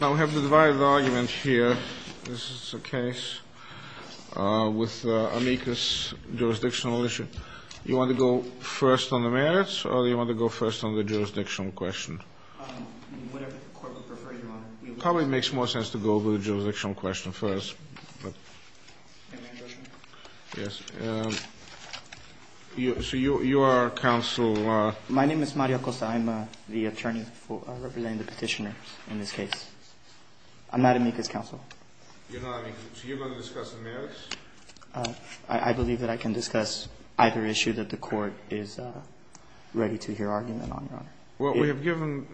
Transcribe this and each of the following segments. Now we have the divided argument here. This is a case with amicus jurisdictional issue. Do you want to go first on the merits or do you want to go first on the jurisdictional question? Whatever the court would prefer, Your Honor. It probably makes more sense to go with the jurisdictional question first. So you are counsel? My name is Mario Costa. I'm the attorney representing the petitioner in this case. I'm not amicus counsel. You're not amicus. So you're going to discuss the merits? I believe that I can discuss either issue that the court is ready to hear argument on, Your Honor. Well, we have given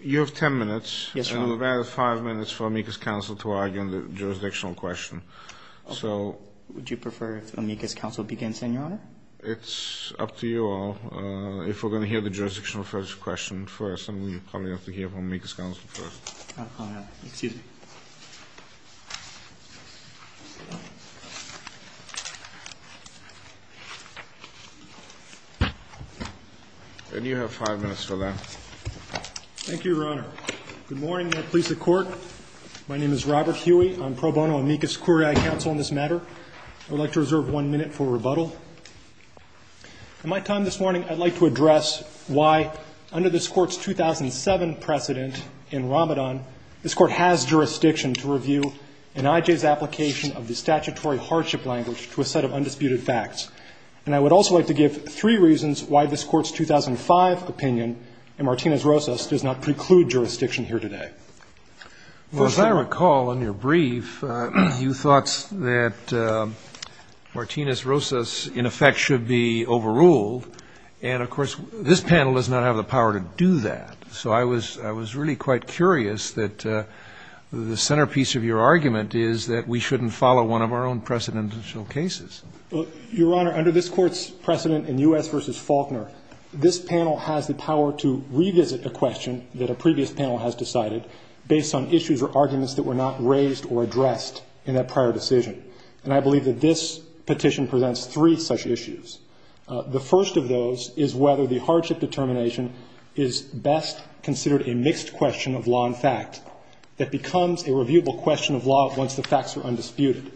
you 10 minutes. Yes, Your Honor. And we've added 5 minutes for amicus counsel to argue on the jurisdictional question. Would you prefer if amicus counsel begins, then, Your Honor? It's up to you all. If we're going to hear the jurisdictional question first, then we probably have to hear from amicus counsel first. Excuse me. And you have 5 minutes for that. Thank you, Your Honor. Good morning. May it please the Court. My name is Robert Huey. I'm pro bono amicus curiae counsel on this matter. I would like to reserve 1 minute for rebuttal. In my time this morning, I'd like to address why, under this Court's 2007 precedent in Ramadan, this Court has jurisdiction to review an I.J.'s application of the statutory hardship language to a set of undisputed facts. And I would also like to give 3 reasons why this Court's 2005 opinion in Martinez-Rosas does not preclude jurisdiction here today. Well, as I recall in your brief, you thought that Martinez-Rosas, in effect, should be overruled. And, of course, this panel does not have the power to do that. So I was really quite curious that the centerpiece of your argument is that we shouldn't follow one of our own precedential cases. Your Honor, under this Court's precedent in U.S. v. Faulkner, this panel has the power to revisit a question that a previous panel has decided based on issues or arguments that were not raised or addressed in that prior decision. And I believe that this petition presents 3 such issues. The first of those is whether the hardship determination is best considered a mixed question of law and fact that becomes a reviewable question of law once the facts are undisputed.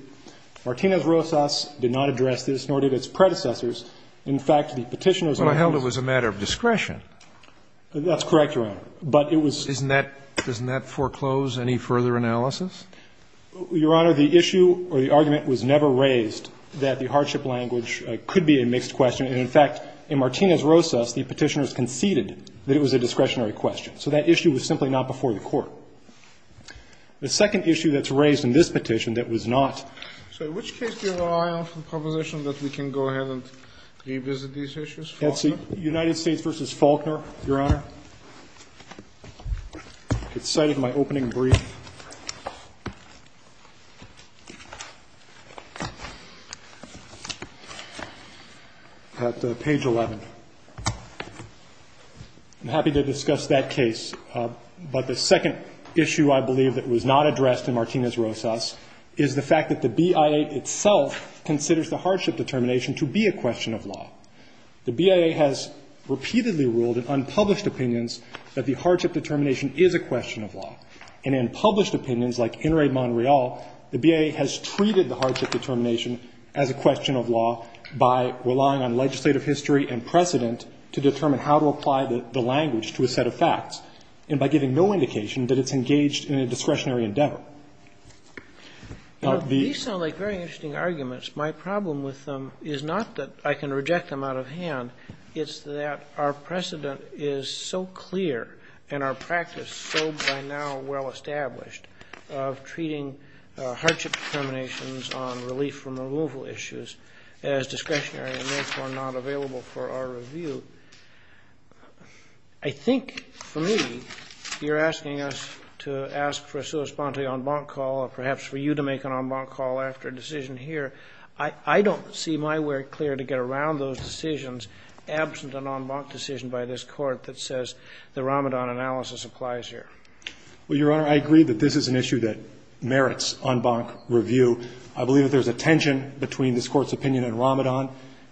Martinez-Rosas did not address this, nor did its predecessors. In fact, the petitioner's argument was a matter of discretion. Well, I held it was a matter of discretion. That's correct, Your Honor. But it was — Doesn't that foreclose any further analysis? Your Honor, the issue or the argument was never raised that the hardship language could be a mixed question. And, in fact, in Martinez-Rosas, the petitioners conceded that it was a discretionary question. So that issue was simply not before the Court. The second issue that's raised in this petition that was not — So in which case do you have your eye on for the proposition that we can go ahead and revisit these issues? Faulkner? United States v. Faulkner, Your Honor. It's cited in my opening brief at page 11. I'm happy to discuss that case. But the second issue I believe that was not addressed in Martinez-Rosas is the fact that the BIA itself considers the hardship determination to be a question of law. The BIA has repeatedly ruled in unpublished opinions that the hardship determination is a question of law. And in published opinions, like In re Mon Real, the BIA has treated the hardship determination as a question of law by relying on legislative history and precedent to determine how to apply the language to a set of facts, and by giving no indication that it's engaged in a discretionary endeavor. These sound like very interesting arguments. My problem with them is not that I can reject them out of hand. It's that our precedent is so clear and our practice so by now well established of treating hardship determinations on relief from removal issues as discretionary and, therefore, not available for our review. I think, for me, you're asking us to ask for a sui sponte en banc call, or perhaps for you to make an en banc call after a decision here. I don't see my work clear to get around those decisions absent an en banc decision by this Court that says the Ramadan analysis applies here. Well, Your Honor, I agree that this is an issue that merits en banc review. I believe that there's a tension between this Court's opinion in Ramadan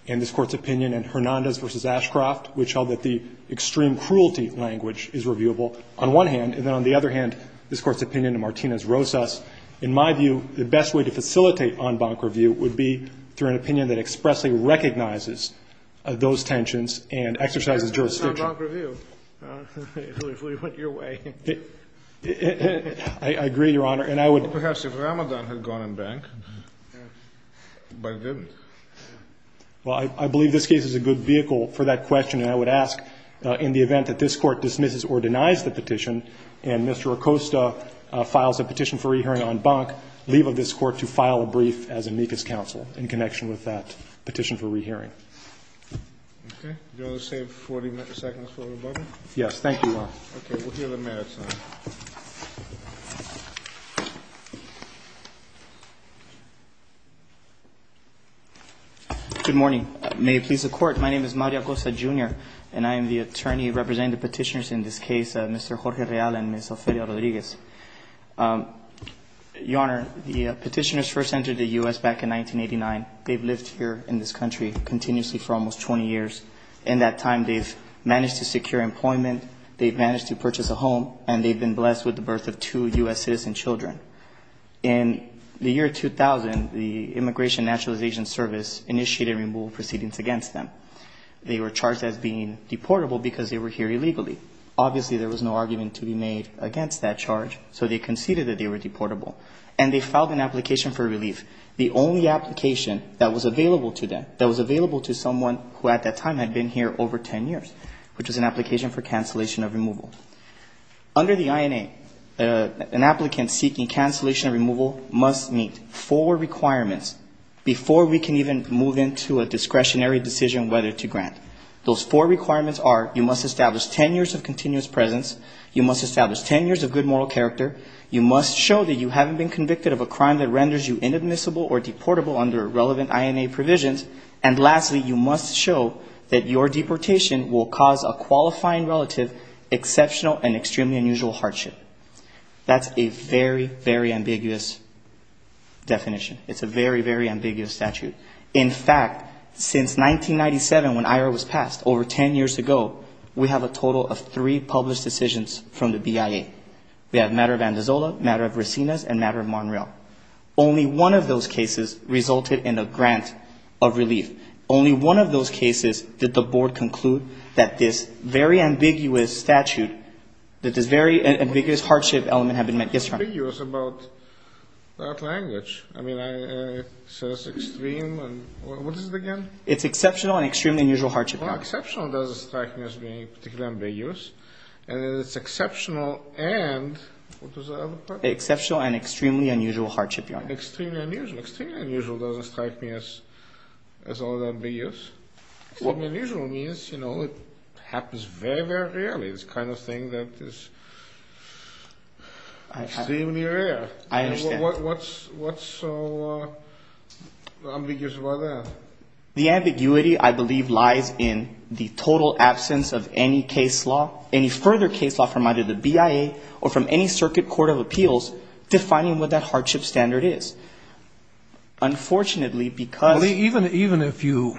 and this Court's opinion in Hernandez v. Ashcroft, which held that the extreme cruelty language is reviewable on one hand, and then, on the other hand, this Court's opinion in Hernandez v. Ashcroft. In my view, the best way to facilitate en banc review would be through an opinion that expressly recognizes those tensions and exercises jurisdiction. But this is en banc review. It literally went your way. I agree, Your Honor. And I would – Perhaps if Ramadan had gone en banc, but it didn't. Well, I believe this case is a good vehicle for that question, and I would ask in the case of en banc, leave of this Court to file a brief as amicus counsel in connection with that petition for rehearing. Okay. Do you want to save 40 seconds for rebuttal? Yes, thank you, Your Honor. Okay. We'll hear the merits now. Good morning. May it please the Court. My name is Mario Acosta, Jr., and I am the attorney representing the petitioners in this case, Mr. Jorge Real and Ms. Ophelia Rodriguez. Your Honor, the petitioners first entered the U.S. back in 1989. They've lived here in this country continuously for almost 20 years. In that time, they've managed to secure employment, they've managed to purchase a home, and they've been blessed with the birth of two U.S. citizen children. In the year 2000, the Immigration Naturalization Service initiated removal proceedings against them. They were charged as being deportable because they were here illegally. Obviously, there was no argument to be made against that charge, so they conceded that they were deportable. And they filed an application for relief, the only application that was available to them, that was available to someone who at that time had been here over 10 years, which was an application for cancellation of removal. Under the INA, an applicant seeking cancellation of removal must meet four requirements before we can even move into a discretionary decision whether to grant. Those four requirements are you must establish 10 years of continuous presence, you must establish 10 years of good moral character, you must show that you haven't been convicted of a crime that renders you inadmissible or deportable under relevant INA provisions, and lastly, you must show that your deportation will cause a qualifying relative exceptional and extremely unusual hardship. That's a very, very ambiguous definition. It's a very, very ambiguous statute. In fact, since 1997, when IRO was passed, over 10 years ago, we have a total of three published decisions from the BIA. We have matter of Andazola, matter of Resinas, and matter of Monreal. Only one of those cases resulted in a grant of relief. Only one of those cases did the board conclude that this very ambiguous statute, that this very ambiguous hardship element had been met. It's very ambiguous about that language. I mean, it says extreme. What is it again? It's exceptional and extremely unusual hardship element. Well, exceptional doesn't strike me as being particularly ambiguous. And it's exceptional and what was the other part? Exceptional and extremely unusual hardship element. Extremely unusual. Extremely unusual doesn't strike me as all that ambiguous. Extremely unusual means, you know, it happens very, very rarely, this kind of thing that is extremely rare. I understand. What's so ambiguous about that? The ambiguity, I believe, lies in the total absence of any case law, any further case law from either the BIA or from any circuit court of appeals defining what that hardship standard is. Unfortunately, because Even if you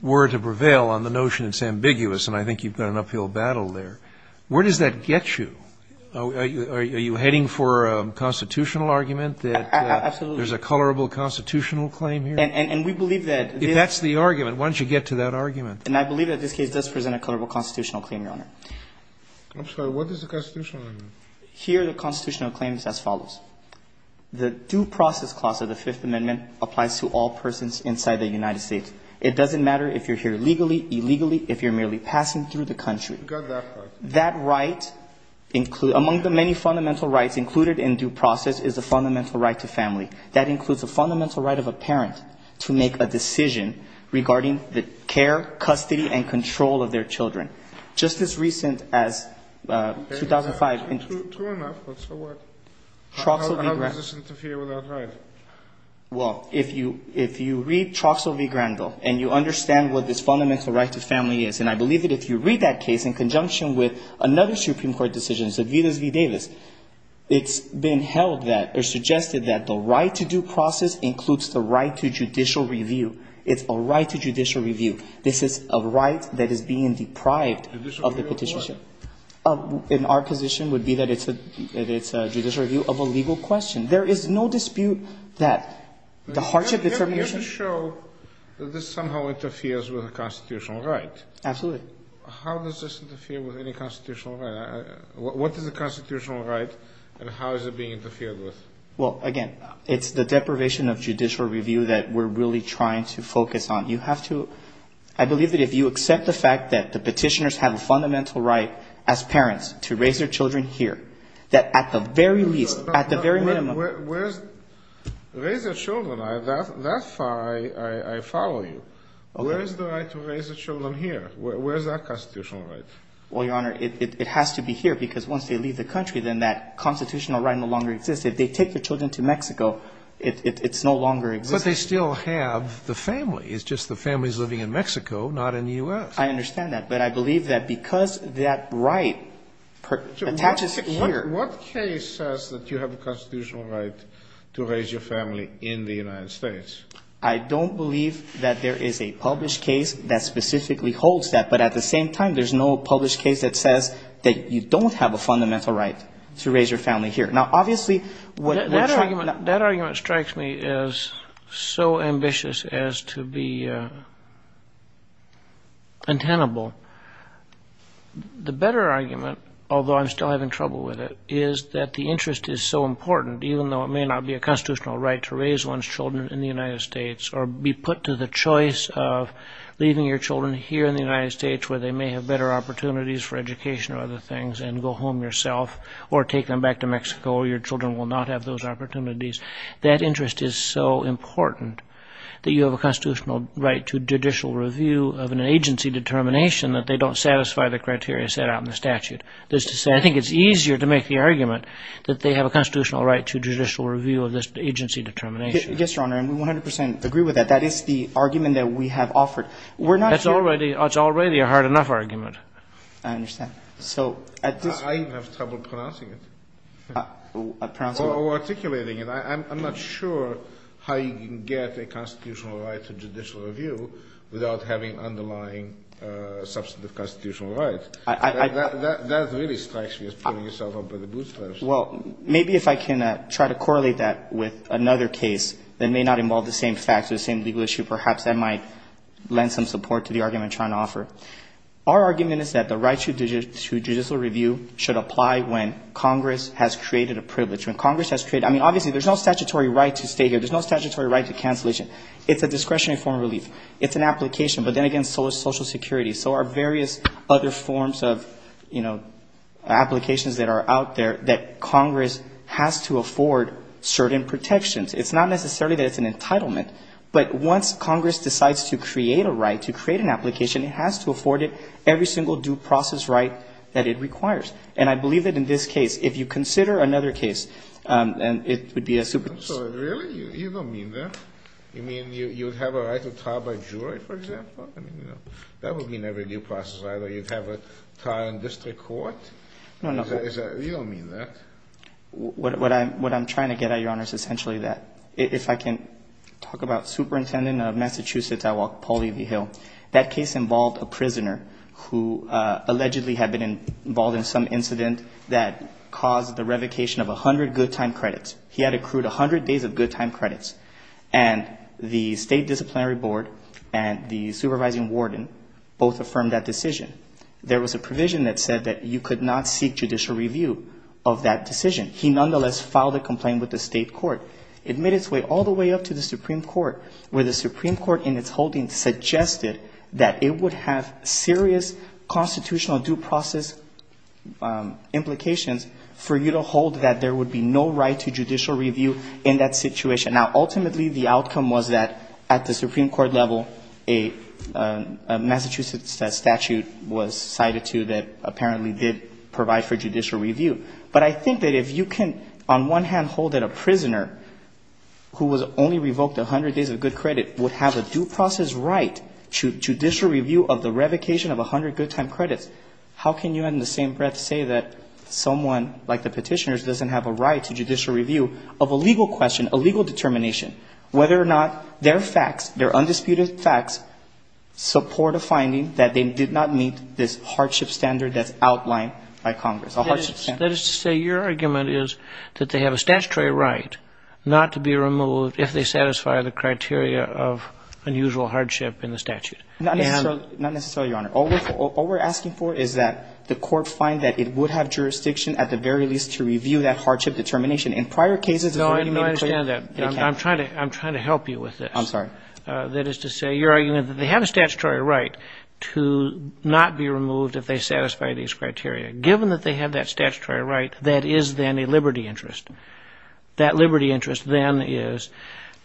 were to prevail on the notion it's ambiguous, and I think you've got an uphill battle there, where does that get you? Are you heading for a constitutional argument that there's a colorable constitutional claim here? And we believe that If that's the argument, why don't you get to that argument? And I believe that this case does present a colorable constitutional claim, Your Honor. I'm sorry. What is the constitutional argument? Here the constitutional claim is as follows. The due process clause of the Fifth Amendment applies to all persons inside the United States. It doesn't matter if you're here legally, illegally, if you're merely passing through the country. You've got that part. That right, among the many fundamental rights included in due process, is the fundamental right to family. That includes the fundamental right of a parent to make a decision regarding the care, custody, and control of their children. Just as recent as 2005 True enough, but so what? How does this interfere with our right? Well, if you read Troxell v. Granville and you understand what this fundamental right to family is, and I believe that if you read that case in conjunction with another Supreme Court decision, Zavidas v. Davis, it's been held that or suggested that the right to due process includes the right to judicial review. It's a right to judicial review. This is a right that is being deprived of the petition. In our position would be that it's a judicial review of a legal question. There is no dispute that the hardship that's our mission You're here to show that this somehow interferes with a constitutional right. Absolutely. How does this interfere with any constitutional right? What is a constitutional right and how is it being interfered with? Well, again, it's the deprivation of judicial review that we're really trying to focus on. You have to – I believe that if you accept the fact that the petitioners have a constitutional right as parents to raise their children here, that at the very least, at the very minimum – Where is – raise their children, that far I follow you. Where is the right to raise their children here? Where is that constitutional right? Well, Your Honor, it has to be here because once they leave the country, then that constitutional right no longer exists. If they take their children to Mexico, it's no longer existing. But they still have the family. It's just the family is living in Mexico, not in the U.S. I understand that. But I believe that because that right attaches here – What case says that you have a constitutional right to raise your family in the United States? I don't believe that there is a published case that specifically holds that. But at the same time, there's no published case that says that you don't have a fundamental right to raise your family here. Now, obviously – That argument strikes me as so ambitious as to be untenable. The better argument, although I'm still having trouble with it, is that the interest is so important, even though it may not be a constitutional right to raise one's children in the United States or be put to the choice of leaving your children here in the United States where they may have better opportunities for education or other things and go home yourself or take them back to Mexico or your children will not have those opportunities. That interest is so important that you have a constitutional right to judicial review of an agency determination that they don't satisfy the criteria set out in the statute. That is to say, I think it's easier to make the argument that they have a constitutional right to judicial review of this agency determination. Yes, Your Honor, and we 100 percent agree with that. That is the argument that we have offered. That's already a hard enough argument. I understand. I have trouble pronouncing it or articulating it. I'm not sure how you can get a constitutional right to judicial review without having underlying substantive constitutional rights. That really strikes me as pulling yourself up by the bootstraps. Well, maybe if I can try to correlate that with another case that may not involve the same facts or the same legal issue, perhaps that might lend some support to the argument I'm trying to offer. Our argument is that the right to judicial review should apply when Congress has created a privilege. When Congress has created, I mean, obviously there's no statutory right to stay here. There's no statutory right to cancellation. It's a discretionary form of relief. It's an application. But then again, so is Social Security. So are various other forms of, you know, applications that are out there that Congress has to afford certain protections. It's not necessarily that it's an entitlement, but once Congress decides to create a right, to create an application, it has to afford it every single due process right that it requires. And I believe that in this case, if you consider another case, it would be a super case. Really? You don't mean that? You mean you would have a right to trial by jury, for example? I mean, you know, that would mean every due process right, or you'd have a trial in district court? No, no. You don't mean that? What I'm trying to get at, Your Honor, is essentially that. If I can talk about Superintendent of Massachusetts, Paul E.V. Hill. That case involved a prisoner who allegedly had been involved in some incident that caused the revocation of 100 good time credits. He had accrued 100 days of good time credits. And the state disciplinary board and the supervising warden both affirmed that decision. There was a provision that said that you could not seek judicial review of that decision. He nonetheless filed a complaint with the state court. It made its way all the way up to the Supreme Court, where the Supreme Court in its holding suggested that it would have serious constitutional due process implications for you to hold that there would be no right to judicial review in that situation. Now, ultimately, the outcome was that at the Supreme Court level, a Massachusetts statute was cited to that apparently did provide for judicial review. But I think that if you can, on one hand, hold that a prisoner who was only revoked 100 days of good credit would have a due process right to judicial review of the revocation of 100 good time credits, how can you in the same breath say that someone like the petitioners doesn't have a right to judicial review of a legal question, a legal determination, whether or not their facts, their undisputed facts, support a finding that they did not meet this hardship standard that's outlined by Congress, a hardship standard? That is to say your argument is that they have a statutory right not to be removed if they satisfy the criteria of unusual hardship in the statute. Not necessarily, Your Honor. All we're asking for is that the court find that it would have jurisdiction at the very least to review that hardship determination. In prior cases, it's already made clear that they can't. No, I understand that. I'm trying to help you with this. I'm sorry. That is to say your argument that they have a statutory right to not be removed if they satisfy these criteria, given that they have that statutory right, that is then a liberty interest. That liberty interest then is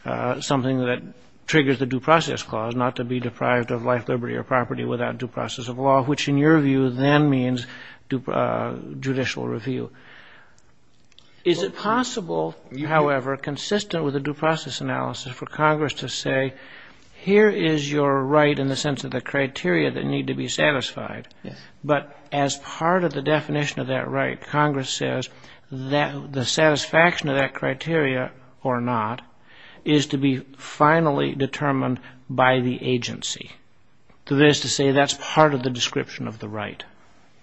something that triggers the due process clause, not to be deprived of life, liberty, or property without due process of law, which in your view then means judicial review. Is it possible, however, consistent with the due process analysis for Congress to say here is your right in the sense of the criteria that need to be satisfied but as part of the definition of that right, Congress says the satisfaction of that criteria or not is to be finally determined by the agency. That is to say that's part of the description of the right.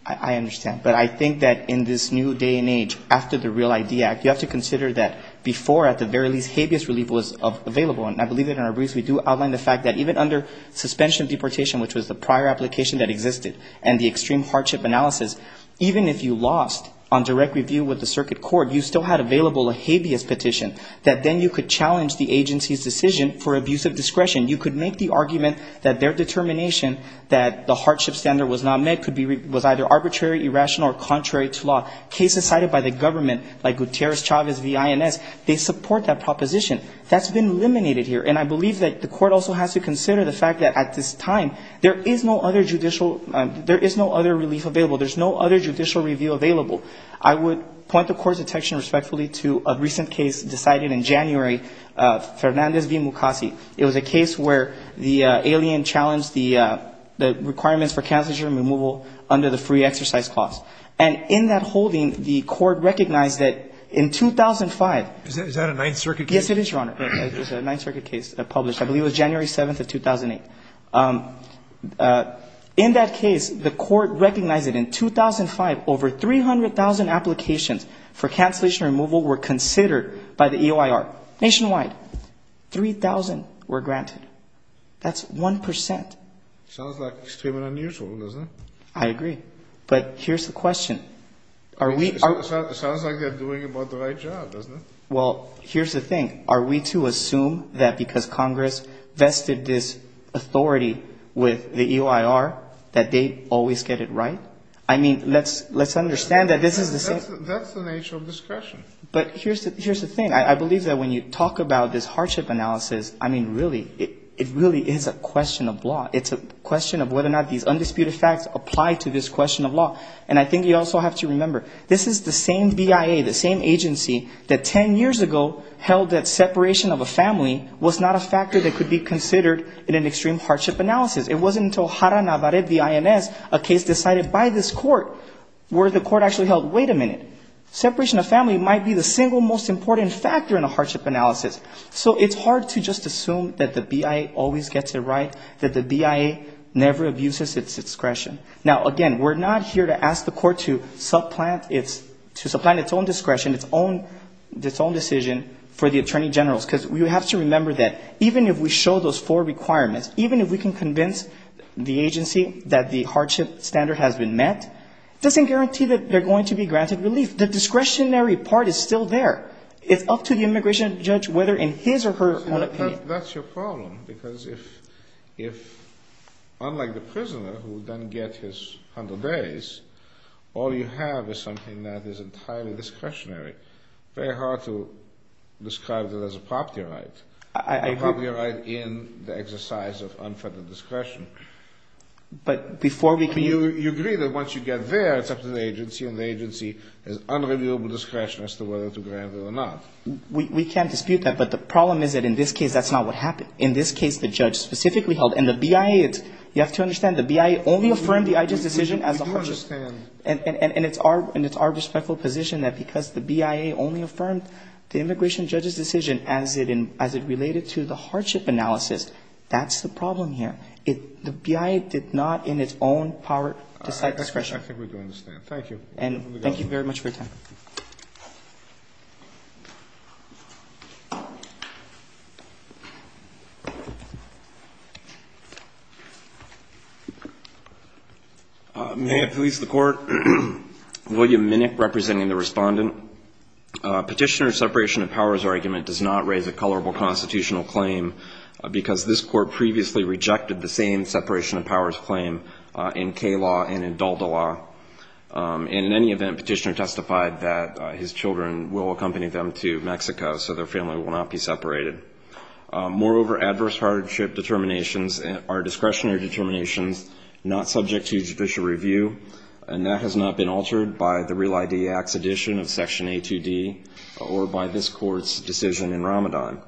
I understand. But I think that in this new day and age, after the REAL ID Act, you have to consider that before at the very least habeas relief was available. And I believe that in our briefs we do outline the fact that even under suspension of deportation, which was the prior application that existed, and the extreme hardship analysis, even if you lost on direct review with the circuit court, you still had available a habeas petition that then you could challenge the agency's decision for abuse of discretion. You could make the argument that their determination that the hardship standard was not met was either arbitrary, irrational, or contrary to law. Cases cited by the government like Gutierrez-Chavez v. INS, they support that proposition. That's been eliminated here. And I believe that the court also has to consider the fact that at this time, there is no other judicial relief available. There's no other judicial review available. I would point the court's attention respectfully to a recent case decided in January, Fernandez v. Mukasey. It was a case where the alien challenged the requirements for cancer germ removal under the free exercise clause. And in that holding, the court recognized that in 2005. Is that a Ninth Circuit case? Yes, it is, Your Honor. It's a Ninth Circuit case published, I believe it was January 7th of 2008. In that case, the court recognized that in 2005, over 300,000 applications for cancellation removal were considered by the EOIR nationwide. 3,000 were granted. That's 1%. Sounds like extremely unusual, doesn't it? I agree. But here's the question. It sounds like they're doing about the right job, doesn't it? Well, here's the thing. Are we to assume that because Congress vested this authority with the EOIR that they always get it right? I mean, let's understand that this is the same. That's the nature of discretion. But here's the thing. I believe that when you talk about this hardship analysis, I mean, really, it really is a question of law. It's a question of whether or not these undisputed facts apply to this question of law. And I think you also have to remember, this is the same BIA, the same agency, that 10 years ago held that separation of a family was not a factor that could be considered in an extreme hardship analysis. It wasn't until Jara Navarrete, the INS, a case decided by this court, where the court actually held, wait a minute, separation of family might be the single most important factor in a hardship analysis. So it's hard to just assume that the BIA always gets it right, that the BIA never abuses its discretion. Now, again, we're not here to ask the court to supplant its own discretion, its own decision for the attorney generals. Because you have to remember that even if we show those four requirements, even if we can convince the agency that the hardship standard has been met, it doesn't guarantee that they're going to be granted relief. The discretionary part is still there. It's up to the immigration judge whether in his or her own opinion. But that's your problem. Because if, unlike the prisoner who then gets his 100 days, all you have is something that is entirely discretionary. Very hard to describe that as a property right. I agree. A property right in the exercise of unfettered discretion. But before we can... You agree that once you get there, it's up to the agency, and the agency has unreliable discretion as to whether to grant it or not. We can't dispute that. But the problem is that in this case, that's not what happened. In this case, the judge specifically held. And the BIA, you have to understand, the BIA only affirmed the IGES decision as a hardship. We do understand. And it's our respectful position that because the BIA only affirmed the immigration judge's decision as it related to the hardship analysis, that's the problem here. The BIA did not in its own power decide discretion. I think we do understand. Thank you. And thank you very much for your time. Thank you. May I please the court? William Minnick representing the respondent. Petitioner's separation of powers argument does not raise a colorable constitutional claim because this court previously rejected the same separation of powers claim in K-law and in Dalda law. And in any event, petitioner testified that his children will accompany them to Mexico, so their family will not be separated. Moreover, adverse hardship determinations are discretionary determinations not subject to judicial review, and that has not been altered by the Real ID Act's addition of Section A2D or by this court's decision in Ramadan.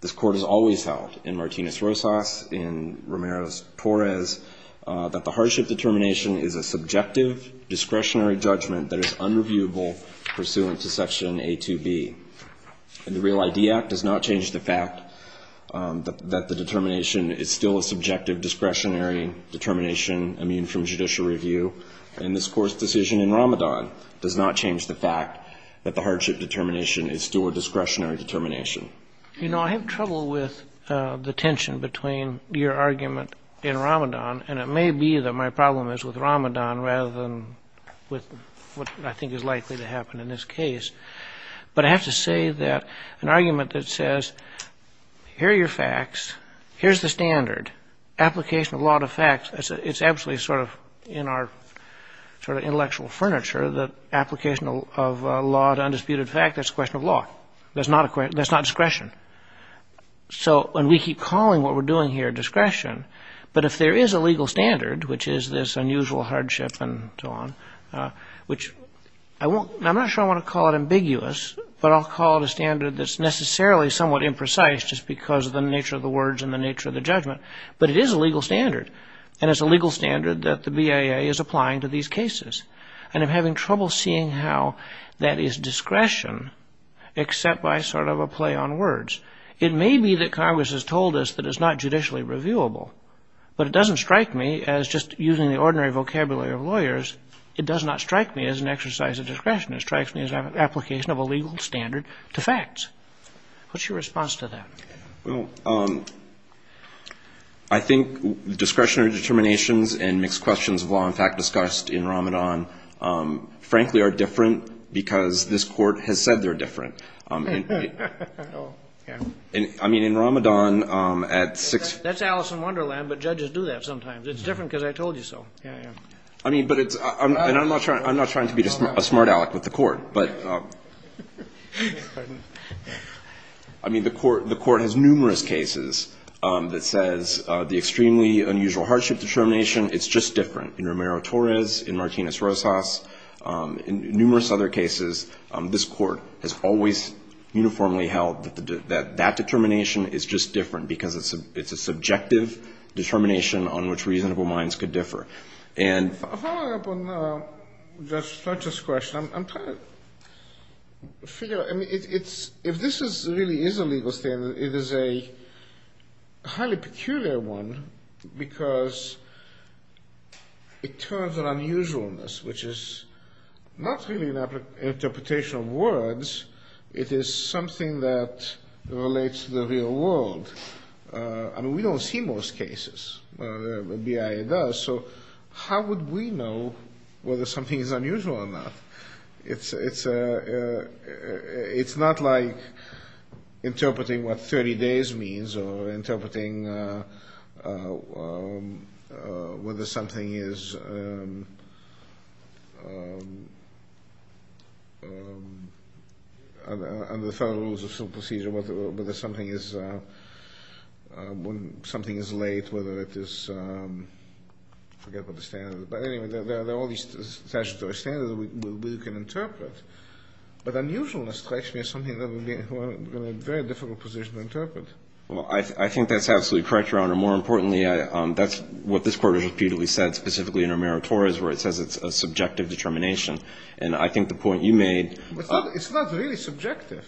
This court has always held, in Martinez-Rosas, in Ramirez-Torres, that the hardship determination is a subjective discretionary judgment that is unreviewable pursuant to Section A2B. And the Real ID Act does not change the fact that the determination is still a subjective discretionary determination immune from judicial review, and this court's decision in Ramadan does not change the fact that the hardship determination is still a discretionary determination. You know, I have trouble with the tension between your argument in Ramadan, and it may be that my problem is with Ramadan rather than with what I think is likely to happen in this case. But I have to say that an argument that says, here are your facts, here's the standard, application of law to facts, it's absolutely sort of in our intellectual furniture that application of law to undisputed fact, that's a question of law. That's not discretion. So, and we keep calling what we're doing here discretion, but if there is a legal standard, which is this unusual hardship and so on, which I won't, I'm not sure I want to call it ambiguous, but I'll call it a standard that's necessarily somewhat imprecise just because of the nature of the words and the nature of the judgment, but it is a legal standard, and it's a legal standard that the BAA is applying to these cases. And I'm having trouble seeing how that is discretion except by sort of a play on words. It may be that Congress has told us that it's not judicially reviewable, but it doesn't strike me as just using the ordinary vocabulary of lawyers, it does not strike me as an exercise of discretion. It strikes me as an application of a legal standard to facts. What's your response to that? Well, I think discretionary determinations and mixed questions of law and fact discussed in Ramadan frankly are different because this court has said they're different. I mean, in Ramadan at six... That's Alice in Wonderland, but judges do that sometimes. It's different because I told you so. I'm not trying to be a smart aleck with the court, but... I mean, the court has numerous cases that says the extremely unusual hardship determination, it's just different. In Romero-Torres, in Martinez-Rosas, in numerous other cases, this court has always uniformly held that that determination is just different because it's a subjective determination on which reasonable minds could differ. Following up on Judge Fletcher's question, I'm trying to figure out... If this really is a legal standard, it is a highly peculiar one because it turns an unusualness, which is not really an unusualness, into something that relates to the real world. I mean, we don't see most cases, BIA does, so how would we know whether something is unusual or not? It's not like interpreting what 30 days means or interpreting whether something is... Under the Federal Rules of Civil Procedure, whether something is late, whether it is... Forget what the standard is, but anyway, there are all these statutory standards that we can interpret. But unusualness strikes me as something that would be a very difficult position to interpret. Well, I think that's absolutely correct, Your Honor. More importantly, that's what this court has repeatedly said, specifically in Romero-Torres, where it says it's a subjective determination. And I think the point you made... It's not really subjective.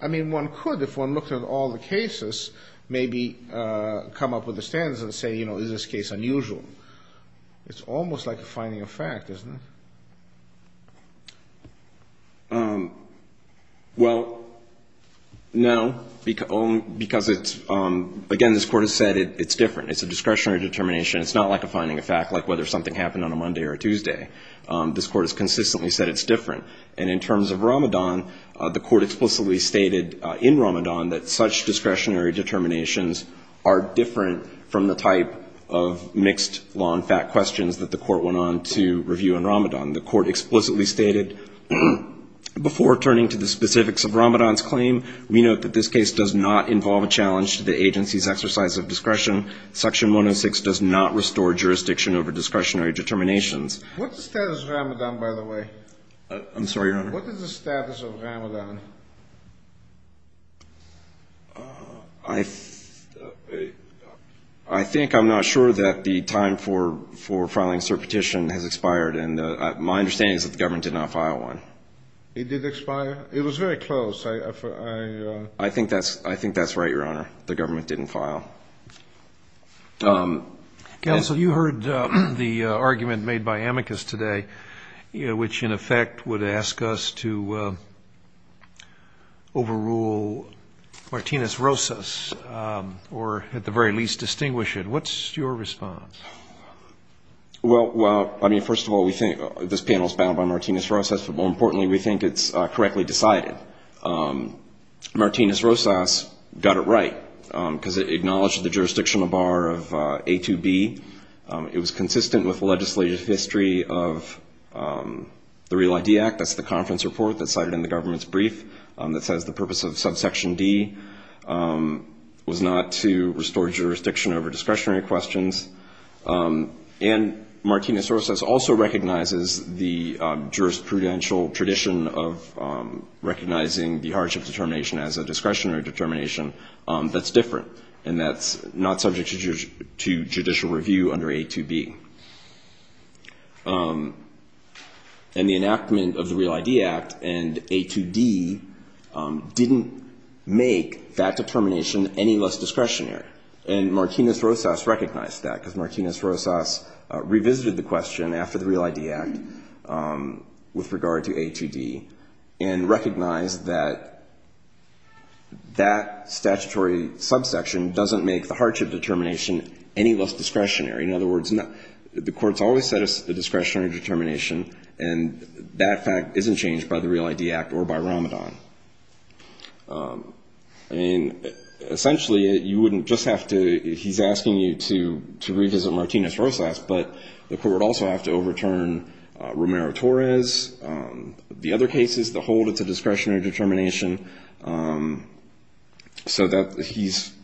I mean, one could, if one looked at all the cases, maybe come up with the standards and say, you know, is this case unusual? It's almost like a finding of fact, isn't it? Well, no, because it's... Again, this court has said it's different. It's a discretionary determination. It's not like a finding of fact, like whether something happened on a Monday or Tuesday. This court has consistently said it's different. And in terms of Ramadan, the court explicitly stated in Ramadan that such discretionary determinations are different from the type of mixed law and fact questions that the court went on to review in Ramadan. The court explicitly stated, before turning to the specifics of Ramadan's claim, we note that this case does not involve a challenge to the agency's exercise of discretion. Section 106 does not restore jurisdiction over discretionary determinations. What's the status of Ramadan, by the way? I'm sorry, Your Honor? What is the status of Ramadan? I think I'm not sure that the time for filing cert petition has expired. And my understanding is that the government did not file one. It did expire? It was very close. I think that's right, Your Honor. The government didn't file. Counsel, you heard the argument made by amicus today, which in effect would ask us to overrule Martinez-Rosas, or at the very least distinguish it. What's your response? Well, I mean, first of all, we think this panel is bound by Martinez-Rosas, but more importantly, we think it's correctly decided. Martinez-Rosas got it right, because it acknowledged the jurisdictional bar of A2B. It was consistent with the legislative history of the Real ID Act. That's the conference report that's cited in the government's brief that says the purpose of subsection D was not to restore jurisdiction over discretionary questions. And Martinez-Rosas also recognizes the jurisprudential tradition of recognizing the hardship determination as a discretionary determination that's different, and that's not subject to judicial review under A2B. And the enactment of the Real ID Act and A2D didn't make that determination any less discretionary. And Martinez-Rosas recognized that, because Martinez-Rosas revisited the question after the Real ID Act with regard to A2D, and recognized that that statutory subsection doesn't make the hardship determination any less discretionary. In other words, the Court's always said it's a discretionary determination, and that fact isn't changed by the Real ID Act or by Ramadan. And essentially, you wouldn't just have to — he's asking you to revisit Martinez-Rosas, but the Court would also have to overturn Romero-Torres, the other cases that hold it's a discretionary determination. So he's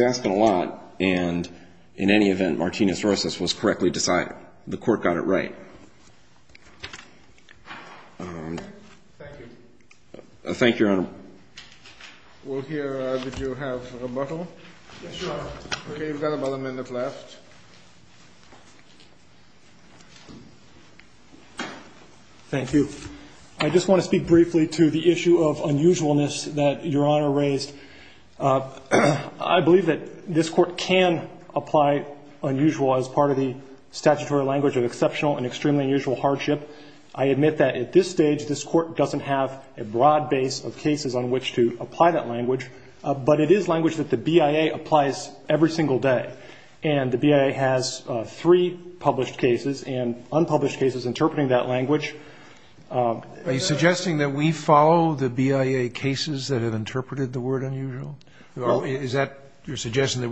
asking a lot, and in any event, Martinez-Rosas was correctly decided. The Court got it right. Thank you, Your Honor. Thank you. I just want to speak briefly to the issue of unusualness that Your Honor raised. I believe that this Court can apply unusual as part of the statutory language of exceptional and extremely unusual hardship. I admit that at this stage, this Court doesn't have a broad base of cases on which to apply that language, but it is language that the BIA applies every single day. And the BIA has three published cases and unpublished cases interpreting that language. Are you suggesting that we follow the BIA cases that have interpreted the word unusual? Is that your suggestion, that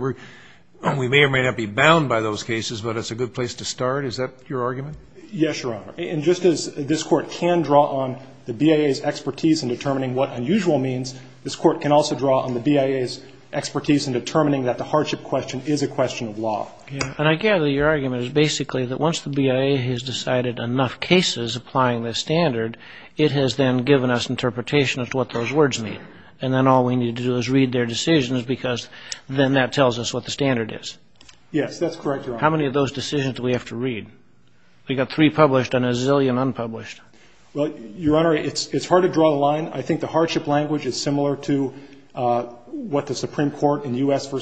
we may or may not be bound by those cases, but it's a good place to start? Is that your argument? Yes, Your Honor. And just as this Court can draw on the BIA's expertise in determining what unusual means, this Court can also draw on the BIA's expertise in determining that the hardship question is a question of law. And I gather your argument is basically that once the BIA has decided enough cases applying the standard, it has then given us We got three published and a zillion unpublished. Well, Your Honor, it's hard to draw the line. I think the hardship language is similar to what the Supreme Court in U.S. v.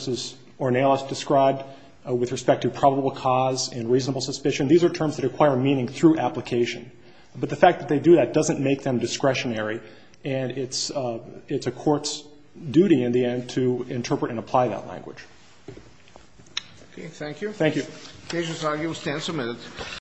Ornelas described with respect to probable cause and reasonable suspicion. These are terms that acquire meaning through application. But the fact that they do that doesn't make them discretionary, and it's a Court's responsibility to do that.